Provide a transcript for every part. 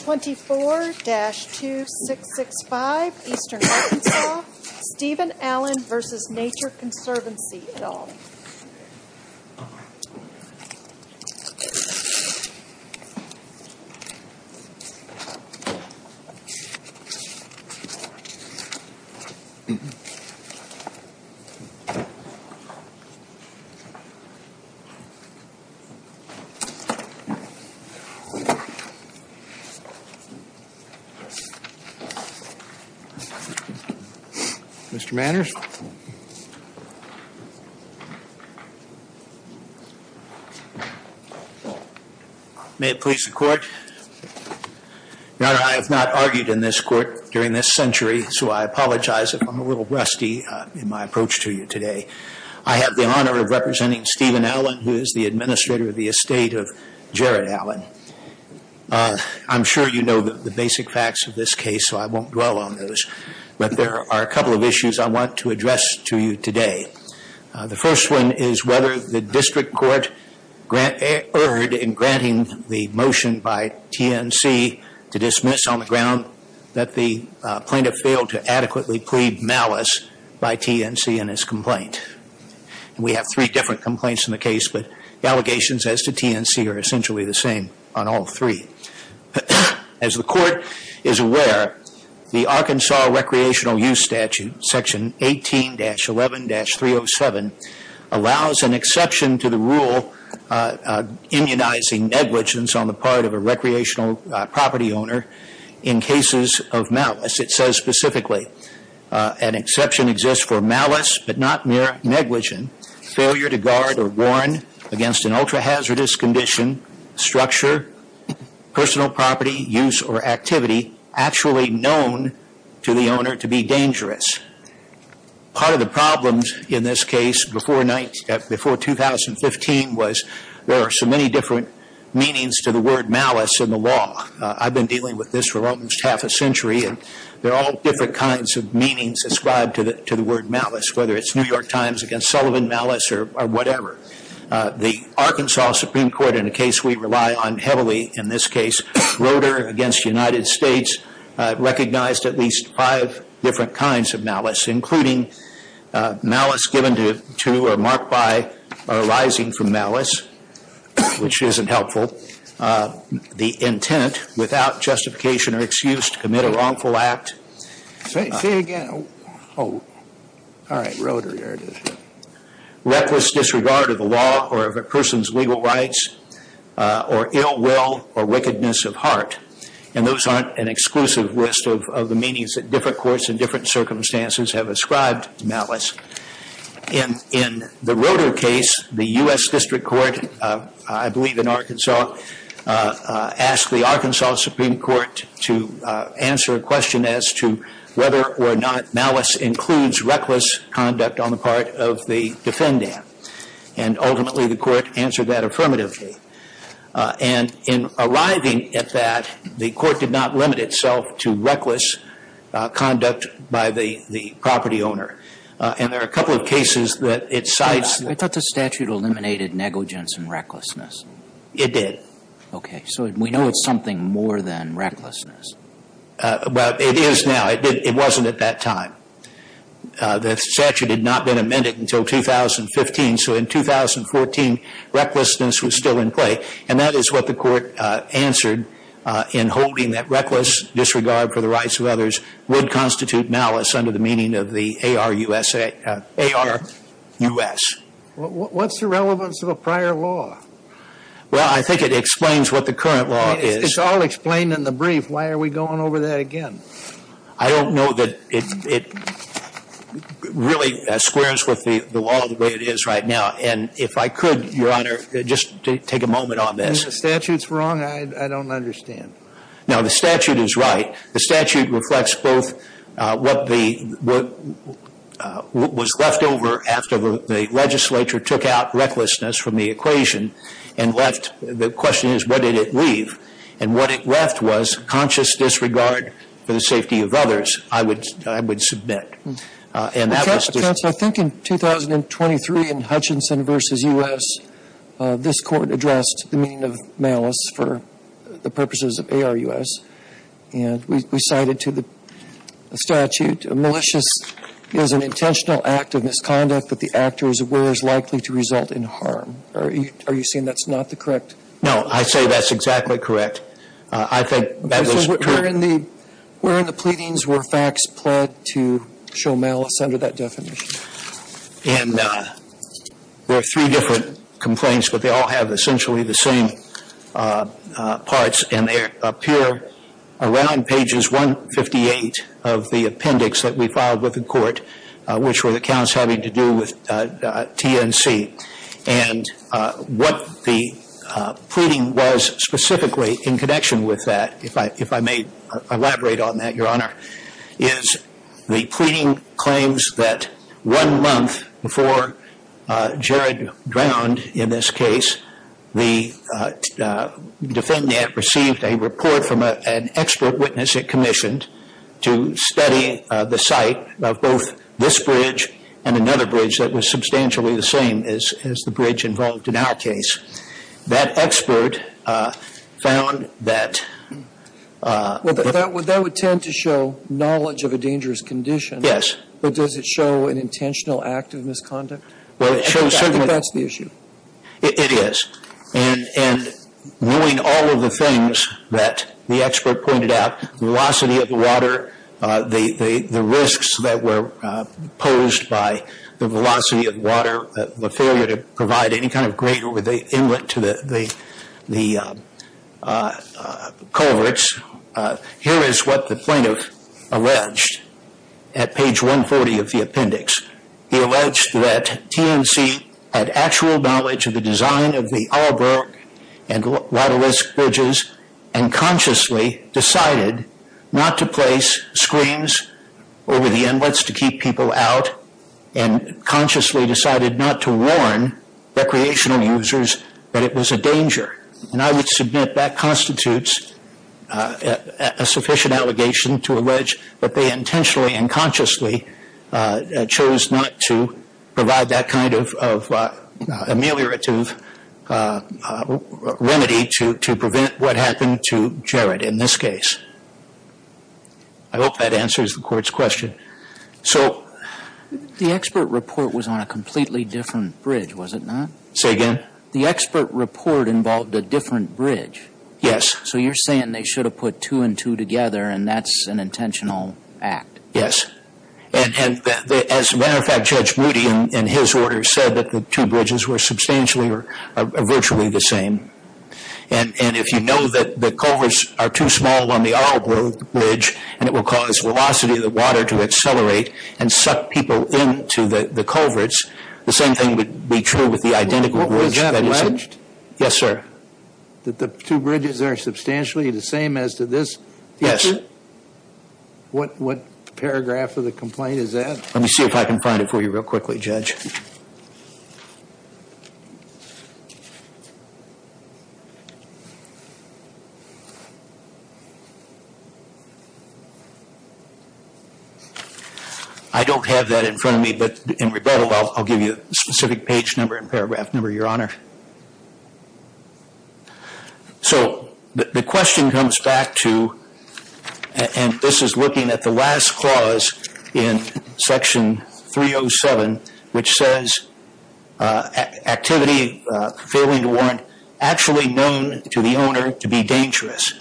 24-2665 Eastern Arkansas Stephen Allen v. Nature Conservancy, et al. May it please the Court. Your Honor, I have not argued in this Court during this century, so I apologize if I'm a little rusty in my approach to you today. I have the honor of representing Stephen Allen, who is the administrator of the estate of Jared Allen. I'm sure you know the basic facts of this case, so I won't dwell on those, but there are a couple of issues I want to address to you today. The first one is whether the District Court erred in granting the motion by TNC to dismiss on the ground that the plaintiff failed to adequately plead malice by TNC in his complaint. We have three different complaints in the case, but the allegations as to TNC are essentially the same on all three. As the Court is aware, the Arkansas Recreational Use Statute, Section 18-11-307, allows an exception to the rule immunizing negligence on the part of a recreational property owner in cases of malice. It says specifically, an exception exists for malice, but not mere negligence, failure to guard or warn against an ultra-hazardous condition, structure, personal property, use, or activity actually known to the owner to be dangerous. Part of the problems in this case before 2015 was there are so many different meanings to the word malice in the law. I've been dealing with this for almost half a century and there are all different kinds of meanings ascribed to the word malice, whether it's New York Times against Sullivan malice or whatever. The Arkansas Supreme Court, in a case we rely on heavily in this case, Roeder against United States recognized at least five different kinds of malice, including malice given to or marked by or arising from malice, which isn't helpful, the intent without justification or excuse to commit a wrongful act. Reckless disregard of the law or of a person's legal rights or ill will or wickedness of heart. And those aren't an exclusive list of the meanings that different courts in different circumstances have ascribed to malice. In the Roeder case, the U.S. District Court, I believe in Arkansas, asked the Arkansas Supreme Court to answer a question as to whether or not malice includes reckless conduct on the part of the defendant. And ultimately the court answered that affirmatively. And in arriving at that, the court did not limit itself to reckless conduct by the property owner. And there are a couple of cases that it cites. I thought the statute eliminated negligence and recklessness. It did. Okay. So we know it's something more than recklessness. Well, it is now. It wasn't at that time. The statute had not been amended until 2015. So in 2014, recklessness was still in play. And that is what the court answered in holding that reckless disregard for the rights of others would constitute malice under the meaning of the ARUSA, ARUS. What's the relevance of a prior law? Well, I think it explains what the current law is. It's all explained in the brief. Why are we going over that again? I don't know that it really squares with the law the way it is right now. And if I could, Your Honor, just take a moment on this. The statute's wrong? I don't understand. No, the statute is right. The statute reflects both what was left over after the legislature took out recklessness from the equation and left. The question is, what did it leave? And what it left was conscious disregard for the safety of others, I would submit. Counsel, I think in 2023 in Hutchinson v. U.S., this court addressed the meaning of malice for the purposes of ARUS. And we cited to the statute, a malicious is an intentional act of misconduct that the actor is aware is likely to result in harm. Are you saying that's not the correct? No, I say that's exactly correct. I think that was correct. So, where in the pleadings were facts pled to show malice under that definition? And there are three different complaints, but they all have essentially the same parts. And they appear around pages 158 of the appendix that we filed with the court, which were the pleading was specifically in connection with that. If I may elaborate on that, Your Honor, is the pleading claims that one month before Jared drowned in this case, the defendant received a report from an expert witness it commissioned to study the site of both this bridge and another bridge that was substantially the same as the bridge involved in our case. That expert found that... Well, that would tend to show knowledge of a dangerous condition. Yes. But does it show an intentional act of misconduct? Well, it shows... I think that's the issue. It is. And knowing all of the things that the expert pointed out, velocity of the water, the risks that were posed by the velocity of the water, the failure to provide any kind greater inlet to the culverts. Here is what the plaintiff alleged at page 140 of the appendix. He alleged that TNC had actual knowledge of the design of the Alburgh and Waterlisk bridges and consciously decided not to place screens over the inlets to keep people out and consciously decided not to warn recreational users that it was a danger. And I would submit that constitutes a sufficient allegation to allege that they intentionally and consciously chose not to provide that kind of ameliorative remedy to prevent what happened to Jared in this case. I hope that answers the court's question. So the expert report was on a completely different bridge, was it not? Say again? The expert report involved a different bridge. Yes. So you're saying they should have put two and two together and that's an intentional act? Yes. And as a matter of fact, Judge Moody in his order said that the two bridges were substantially or virtually the same. And if you know that the culverts are too small on the Alburgh bridge and it will cause velocity of the water to accelerate and suck people into the culverts, the same thing would be true with the identical bridge. Was that alleged? Yes, sir. That the two bridges are substantially the same as to this? Yes. What paragraph of the complaint is that? Let me see if I can find it for you real quickly, Judge. I don't have that in front of me, but in rebuttal, I'll give you a specific page number and paragraph number, Your Honor. So the question comes back to, and this is looking at the last clause in section 307, which says activity failing to warrant actually known to the owner to be dangerous.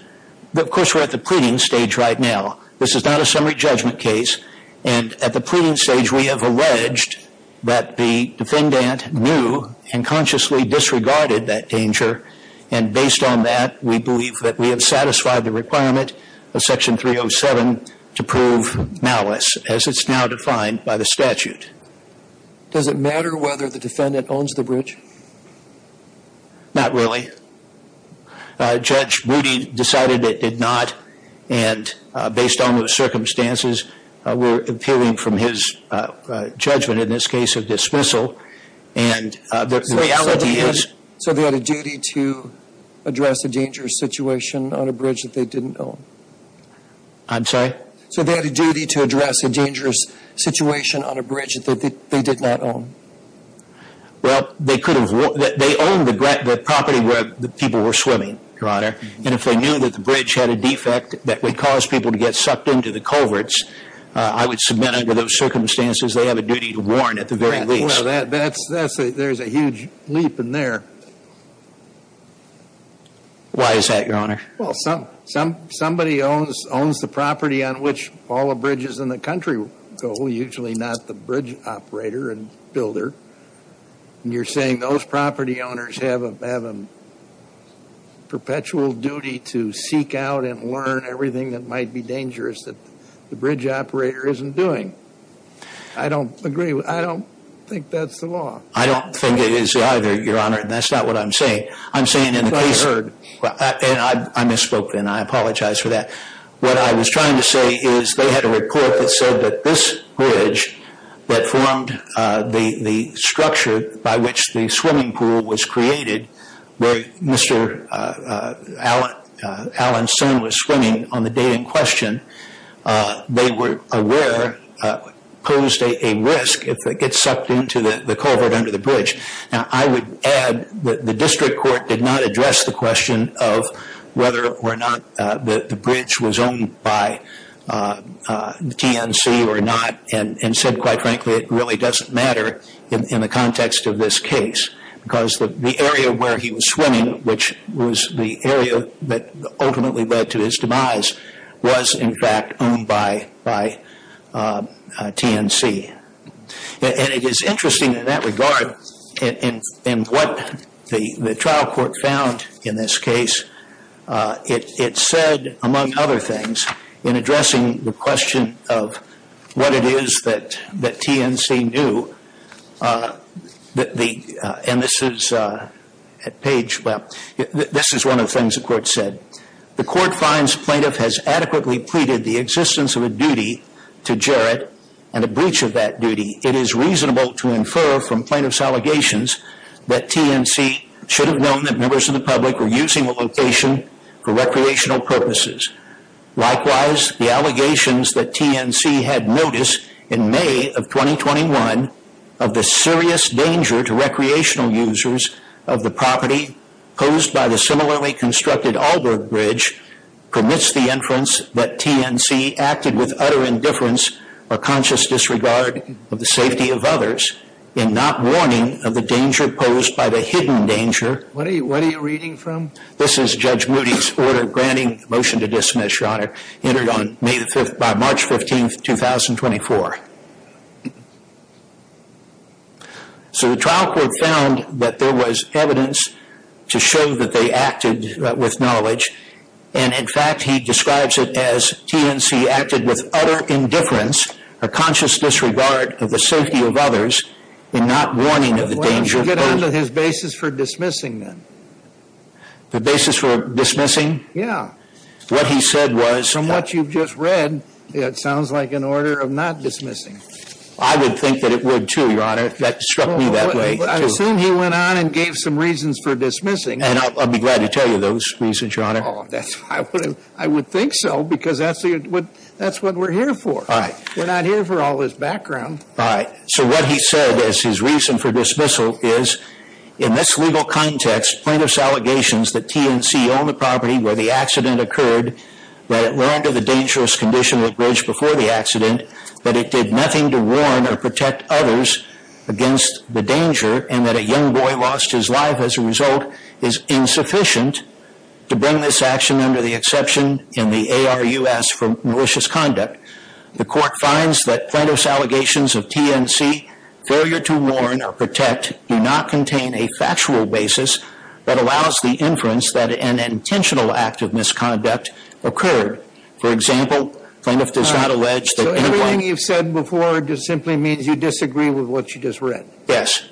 But of course, we're at the pleading stage right now. This is not a summary judgment case. And at the pleading stage, we have alleged that the defendant knew and consciously disregarded that danger. And based on that, we believe that we have satisfied the requirement of section 307 to prove malice as it's now defined by the statute. Does it matter whether the defendant owns the bridge? Not really. Judge Rudy decided it did not. And based on those circumstances, we're impeding from his judgment in this case of dismissal. And the reality is- So they had a duty to address a dangerous situation on a bridge that they didn't own? I'm sorry? So they had a duty to address a dangerous situation on a bridge that they did not own? Well, they could have- they owned the property where the people were swimming, Your Honor. And if they knew that the bridge had a defect that would cause people to get sucked into the culverts, I would submit under those circumstances, they have a duty to warn at the very least. Well, that's- there's a huge leap in there. Why is that, Your Honor? Well, somebody owns the property on which all the bridges in the country go, usually not the bridge operator and builder. And you're saying those property owners have a perpetual duty to seek out and learn everything that might be dangerous that the bridge operator isn't doing. I don't agree. I don't think that's the law. I don't think it is either, Your Honor. And that's not what I'm saying. I'm saying in the case- But I heard. And I misspoke. And I apologize for that. What I was trying to say is they had a report that this bridge that formed the structure by which the swimming pool was created, where Mr. Allen's son was swimming on the day in question, they were aware posed a risk if they get sucked into the culvert under the bridge. Now, I would add that the district court did not address the question of whether or not the bridge was owned by the TNC or not and said, quite frankly, it really doesn't matter in the context of this case because the area where he was swimming, which was the area that ultimately led to his demise, was in fact owned by TNC. And it is interesting in that regard in what the trial court found in this case. It said, among other things, in addressing the question of what it is that TNC knew, and this is at page, well, this is one of the things the court said. The court finds plaintiff has adequately pleaded the existence of a duty to Jarrett and a breach of that duty. It is reasonable to infer from plaintiff's allegations that TNC should have known that members of the public were using the location for recreational purposes. Likewise, the allegations that TNC had noticed in May of 2021 of the serious danger to recreational users of the property posed by the similarly constructed Allberg Bridge permits the inference that TNC acted with utter indifference or conscious disregard of the safety of others in not warning of the danger posed by the hidden danger. What are you reading from? This is Judge Moody's order granting motion to dismiss, Your Honor, entered by March 15, 2024. So the trial court found that there was evidence to show that they acted with knowledge. And in fact, he describes it as TNC acted with utter indifference, a conscious disregard of the safety of others, and not warning of the danger. Get on to his basis for dismissing them. The basis for dismissing? Yeah. What he said was... From what you've just read, it sounds like an order of not dismissing. I would think that it would too, Your Honor. That struck me that way. I assume he went on and gave some reasons for dismissing. I'll be glad to tell you those reasons, Your Honor. I would think so, because that's what we're here for. All right. We're not here for all this background. All right. So what he said as his reason for dismissal is, in this legal context, plaintiff's allegations that TNC owned the property where the accident occurred, that it ran to the dangerous condition of the bridge before the accident, that it did nothing to warn or protect others against the danger, and that a young boy lost his life as a result, is insufficient to bring this action under the exception in the ARUS for malicious conduct. The court finds that plaintiff's allegations of TNC, failure to warn or protect, do not contain a factual basis that allows the inference that an intentional act of misconduct occurred. For example, plaintiff does not allege that... So everything you've said before just simply means you disagree with what you just read? Yes.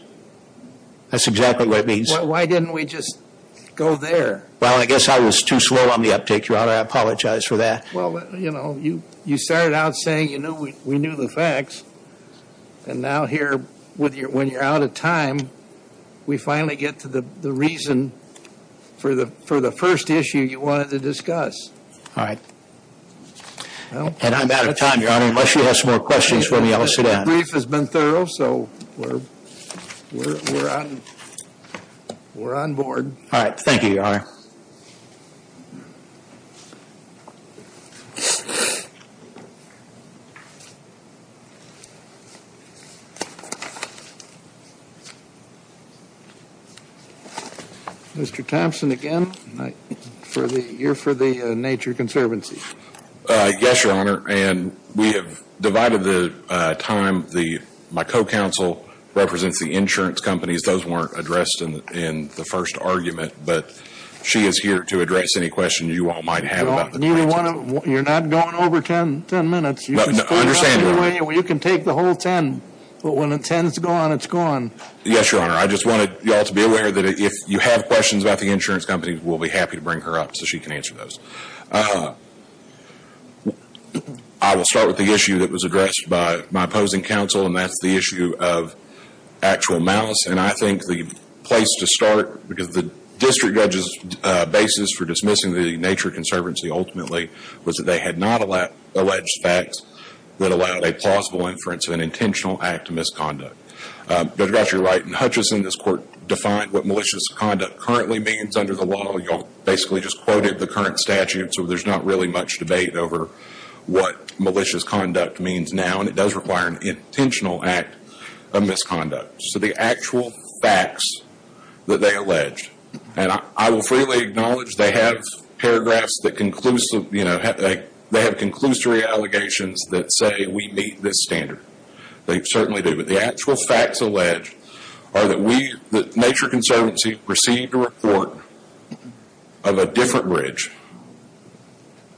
That's exactly what it means. Why didn't we just go there? Well, I guess I was too slow on the uptake, Your Honor. I apologize for that. Well, you know, you started out saying you knew we knew the facts, and now here, when you're out of time, we finally get to the reason for the first issue you wanted to discuss. All right. And I'm out of time, Your Honor. Unless you have some more questions for me, I'll sit down. Brief has been thorough. So we're on board. All right. Thank you, Your Honor. Mr. Thompson, again, you're for the Nature Conservancy. Yes, Your Honor. And we have divided the time. My co-counsel represents the insurance companies. Those weren't addressed in the first argument, but she is here to address any question you all might have about the... You're not going over 10 minutes. No, I understand, Your Honor. You can take the whole 10, but when the 10 is gone, it's gone. Yes, Your Honor. I just wanted you all to be aware that if you have questions about the insurance companies, we'll be happy to bring her up so she can answer those. I will start with the issue that was addressed by my opposing counsel, and that's the issue of actual malice. And I think the place to start, because the district judge's basis for dismissing the Nature Conservancy, ultimately, was that they had not alleged facts that allowed a plausible inference of an intentional act of misconduct. Judge Gottschall, you're right. In Hutchison, this court defined what malicious conduct currently means under the law. You all basically just quoted the current statute, so there's not really much debate over what malicious conduct means now, and it does require an intentional act of misconduct. So the actual facts that they allege, and I will freely acknowledge they have conclusory allegations that say we meet this standard. They certainly do. But the actual facts alleged are that Nature Conservancy received a report of a different bridge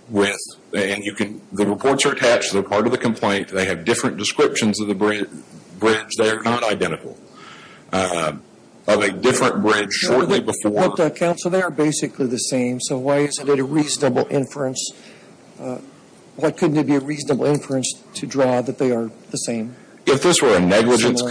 with, and you can, the reports are attached. They're part of the complaint. They have different descriptions of the bridge. They are not identical, of a different bridge shortly before. But counsel, they are basically the same. So why isn't it a reasonable inference? Why couldn't it be a reasonable inference to draw that they are the same? If this were a negligence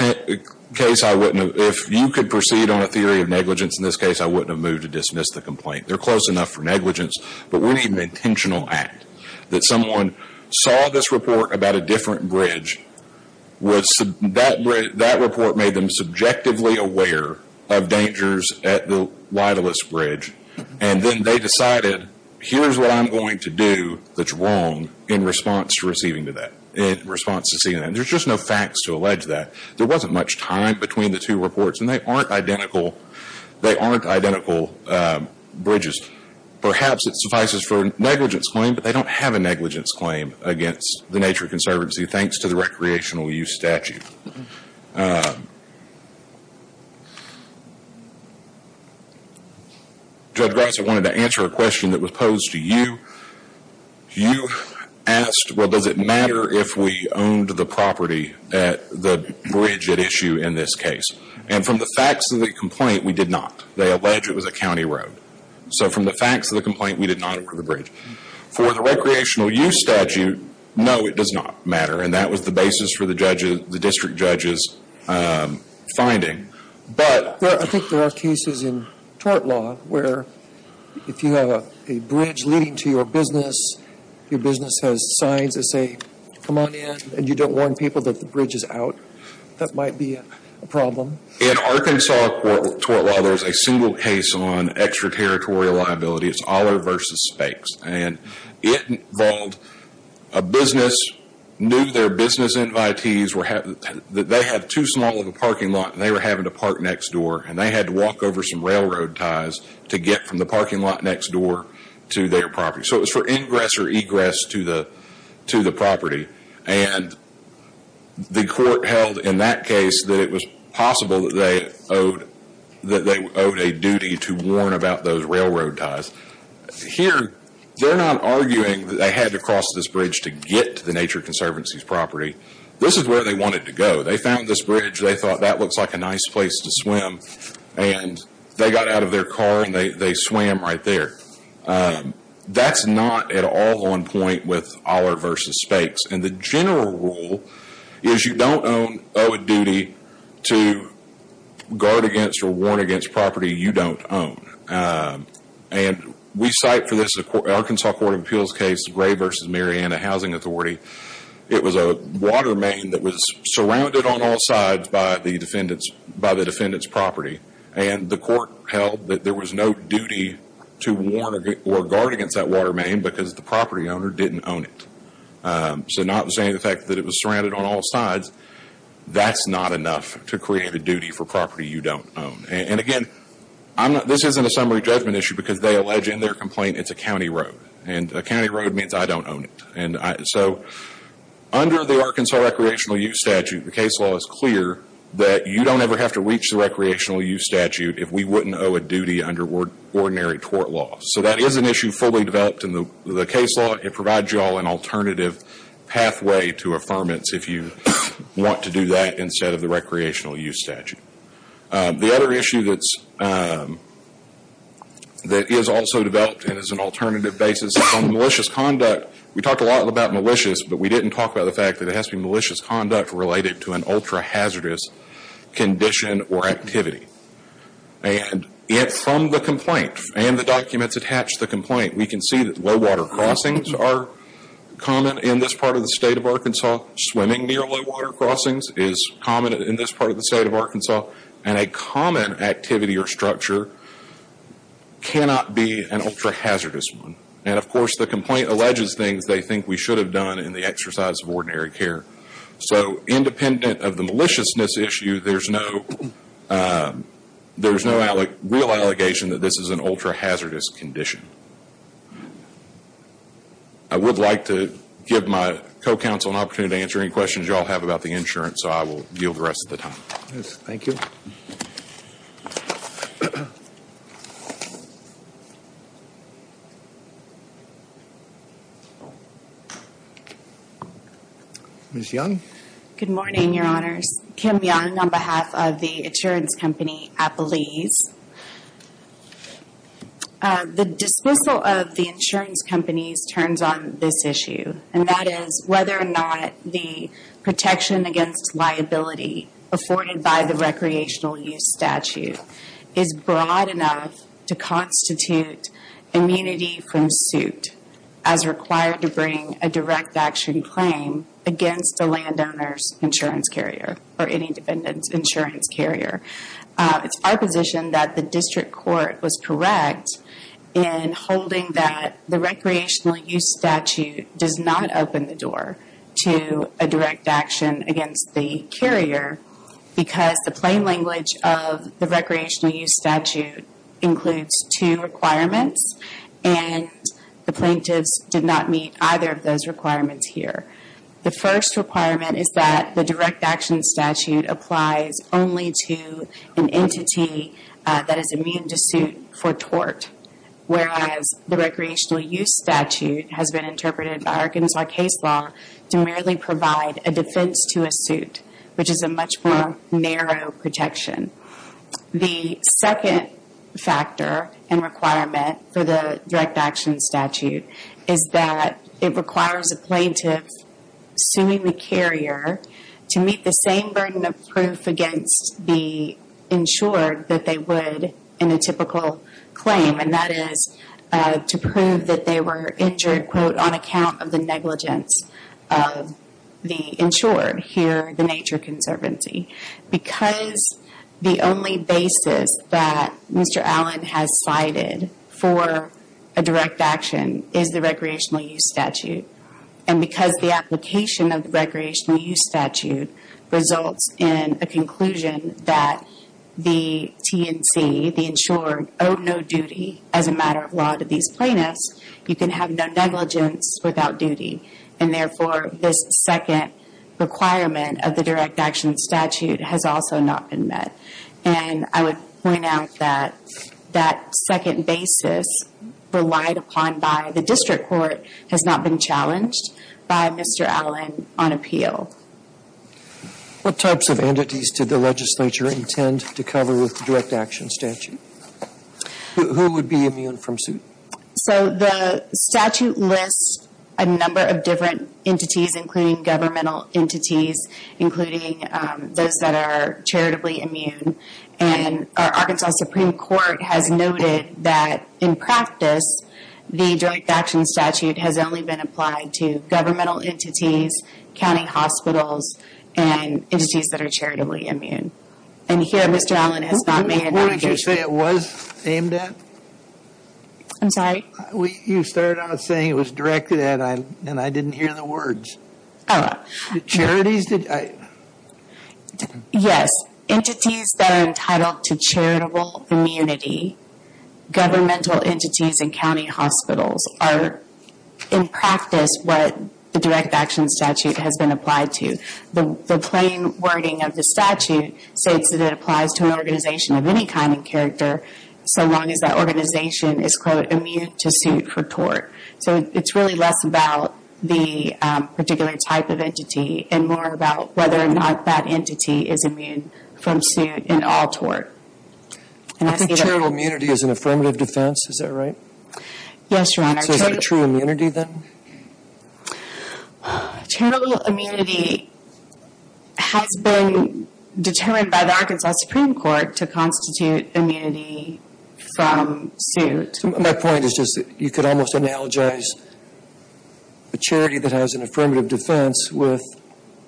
case, I wouldn't have, if you could proceed on a theory of negligence in this case, I wouldn't have moved to dismiss the complaint. They're close enough for negligence, but we need an intentional act. That someone saw this report about a different bridge, that report made them subjectively aware of dangers at the Wideless Bridge, and then they decided, here's what I'm going to do that's wrong in response to receiving that, in response to seeing that. There's just no facts to allege that. There wasn't much time between the two reports, and they aren't identical, they aren't identical bridges. Perhaps it suffices for a negligence claim, but they don't have a negligence claim against the Nature Conservancy, thanks to the recreational use statute. Judge Gross, I wanted to answer a question that was posed to you. You asked, well, does it matter if we owned the property at the bridge at issue in this case? And from the facts of the complaint, we did not. They allege it was a county road. So from the facts of the complaint, we did not own the bridge. For the recreational use statute, no, it does not matter. And that was the basis for the district judge's finding. I think there are cases in tort law where if you have a bridge leading to your business, your business has signs that say, come on in, and you don't warn people that the bridge is out, that might be a problem. In Arkansas tort law, there's a single case on extraterritorial liability. It's Oller versus Spakes. And it involved a business, knew their business invitees, they had too small of a parking lot, and they were having to park next door. And they had to walk over some railroad ties to get from the parking lot next door to their property. So it was for ingress or egress to the property. And the court held in that case that it was possible that they owed a duty to warn about those railroad ties. Here, they're not arguing that they had to cross this bridge to get to the Nature Conservancy's property. This is where they wanted to go. They found this bridge. They thought that looks like a nice place to swim. And they got out of their car and they swam right there. That's not at all on point with Oller versus Spakes. And the general rule is you don't owe a duty to guard against or warn against property you don't own. And we cite for this Arkansas Court of Appeals case, Gray versus Mariana Housing Authority. It was a water main that was surrounded on all sides by the defendant's property. And the court held that there was no duty to warn or guard against that water main because the property owner didn't own it. So notwithstanding the fact that it was surrounded on all sides, that's not enough to create a duty for property you don't own. And again, this isn't a summary judgment issue because they allege in their complaint it's a county road. And a county road means I don't own it. And so under the Arkansas Recreational Use Statute, the case law is clear that you don't ever have to reach the recreational use statute if we wouldn't owe a duty under ordinary court law. So that is an issue fully developed in the case law. It provides you all an alternative pathway to affirmance if you want to do that instead of the recreational use statute. The other issue that is also developed and is an alternative basis is on malicious conduct. We talked a lot about malicious, but we didn't talk about the fact that it has to be malicious conduct related to an ultra-hazardous condition or activity. And yet from the complaint and the documents attached to the complaint, we can see that low water crossings are common in this part of the state of Arkansas. Swimming near low water crossings is common in this part of the state of Arkansas. And a common activity or structure cannot be an ultra-hazardous one. And of course, the complaint alleges things they think we should have done in the exercise of ordinary care. So independent of the maliciousness issue, there's no real allegation that this is an ultra-hazardous condition. I would like to give my co-counsel an opportunity to answer any questions you all have about the insurance, so I will yield the rest of the time. Yes, thank you. Ms. Young. Good morning, your honors. Kim Young on behalf of the insurance company, Appalese. The dismissal of the insurance companies turns on this issue, and that is whether or not the protection against liability afforded by the recreational use statute is broad enough to constitute immunity from suit, as required to bring a direct action claim against a landowner's insurance carrier or any dependent insurance carrier. It's our position that the district court was correct in holding that the recreational use statute does not open the door to a direct action against the carrier, because the plain language of the recreational use statute includes two requirements, and the plaintiffs did not meet either of those requirements here. The first requirement is that the direct action statute applies only to an entity that is immune to suit for tort, whereas the recreational use statute has been interpreted by Arkansas case law to merely provide a defense to a suit, which is a much more narrow protection. The second factor and requirement for the direct action statute is that it requires a plaintiff suing the carrier to meet the same burden of proof against the insured that they would in a typical claim, and that is to prove that they were injured, quote, on account of the negligence of the insured here at the Nature Conservancy. Because the only basis that Mr. Allen has cited for a direct action is the recreational use statute, and because the application of the recreational use statute results in a conclusion that the TNC, the insured, owe no duty as a matter of law to these plaintiffs, you can have no negligence without duty, and therefore this second requirement of the direct action statute has also not been met. And I would point out that that second basis relied upon by the district court has not been challenged by Mr. Allen on appeal. What types of entities did the legislature intend to cover with the direct action statute? Who would be immune from suit? So the statute lists a number of different entities, including governmental entities, including those that are charitably immune, and our Arkansas Supreme Court has noted that in practice, the direct action statute has only been applied to governmental entities, county hospitals, and entities that are charitably immune. And here Mr. Allen has not made an allegation. What did you say it was aimed at? You started out saying it was directed at and I didn't hear the words. Yes, entities that are entitled to charitable immunity, governmental entities, and county hospitals are in practice what the direct action statute has been applied to. The plain wording of the statute states that it applies to an organization of any kind and character so long as that organization is, quote, immune to suit for tort. So it's really less about the particular type of entity and more about whether or not that entity is immune from suit in all tort. And I think charitable immunity is an affirmative defense, is that right? Yes, Your Honor. So is it true immunity then? Charitable immunity has been determined by the Arkansas Supreme Court to constitute immunity from suit. My point is just that you could almost analogize a charity that has an affirmative defense with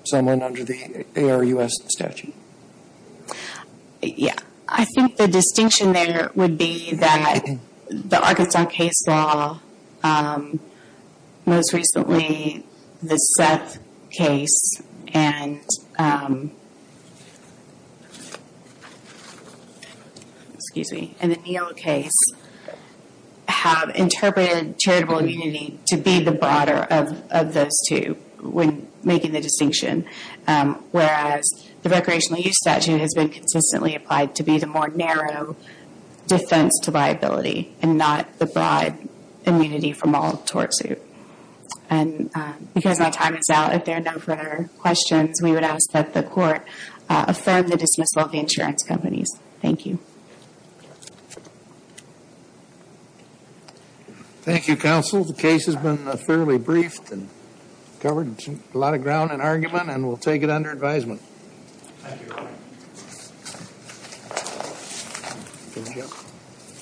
someone under the ARUS statute. Yeah. I think the distinction there would be that the Arkansas case law, most recently the Seth case and the Neal case, have interpreted charitable immunity to be the broader of those two when making the distinction. Whereas the recreational use statute has been consistently applied to be the more narrow defense to liability and not the broad immunity from all tort suit. And because my time is out, if there are no further questions, we would ask that the court affirm the dismissal of the insurance companies. Thank you. Thank you, counsel. The case has been fairly briefed and covered a lot of ground and argument and we'll take it under advisement. Thank you. Thank you.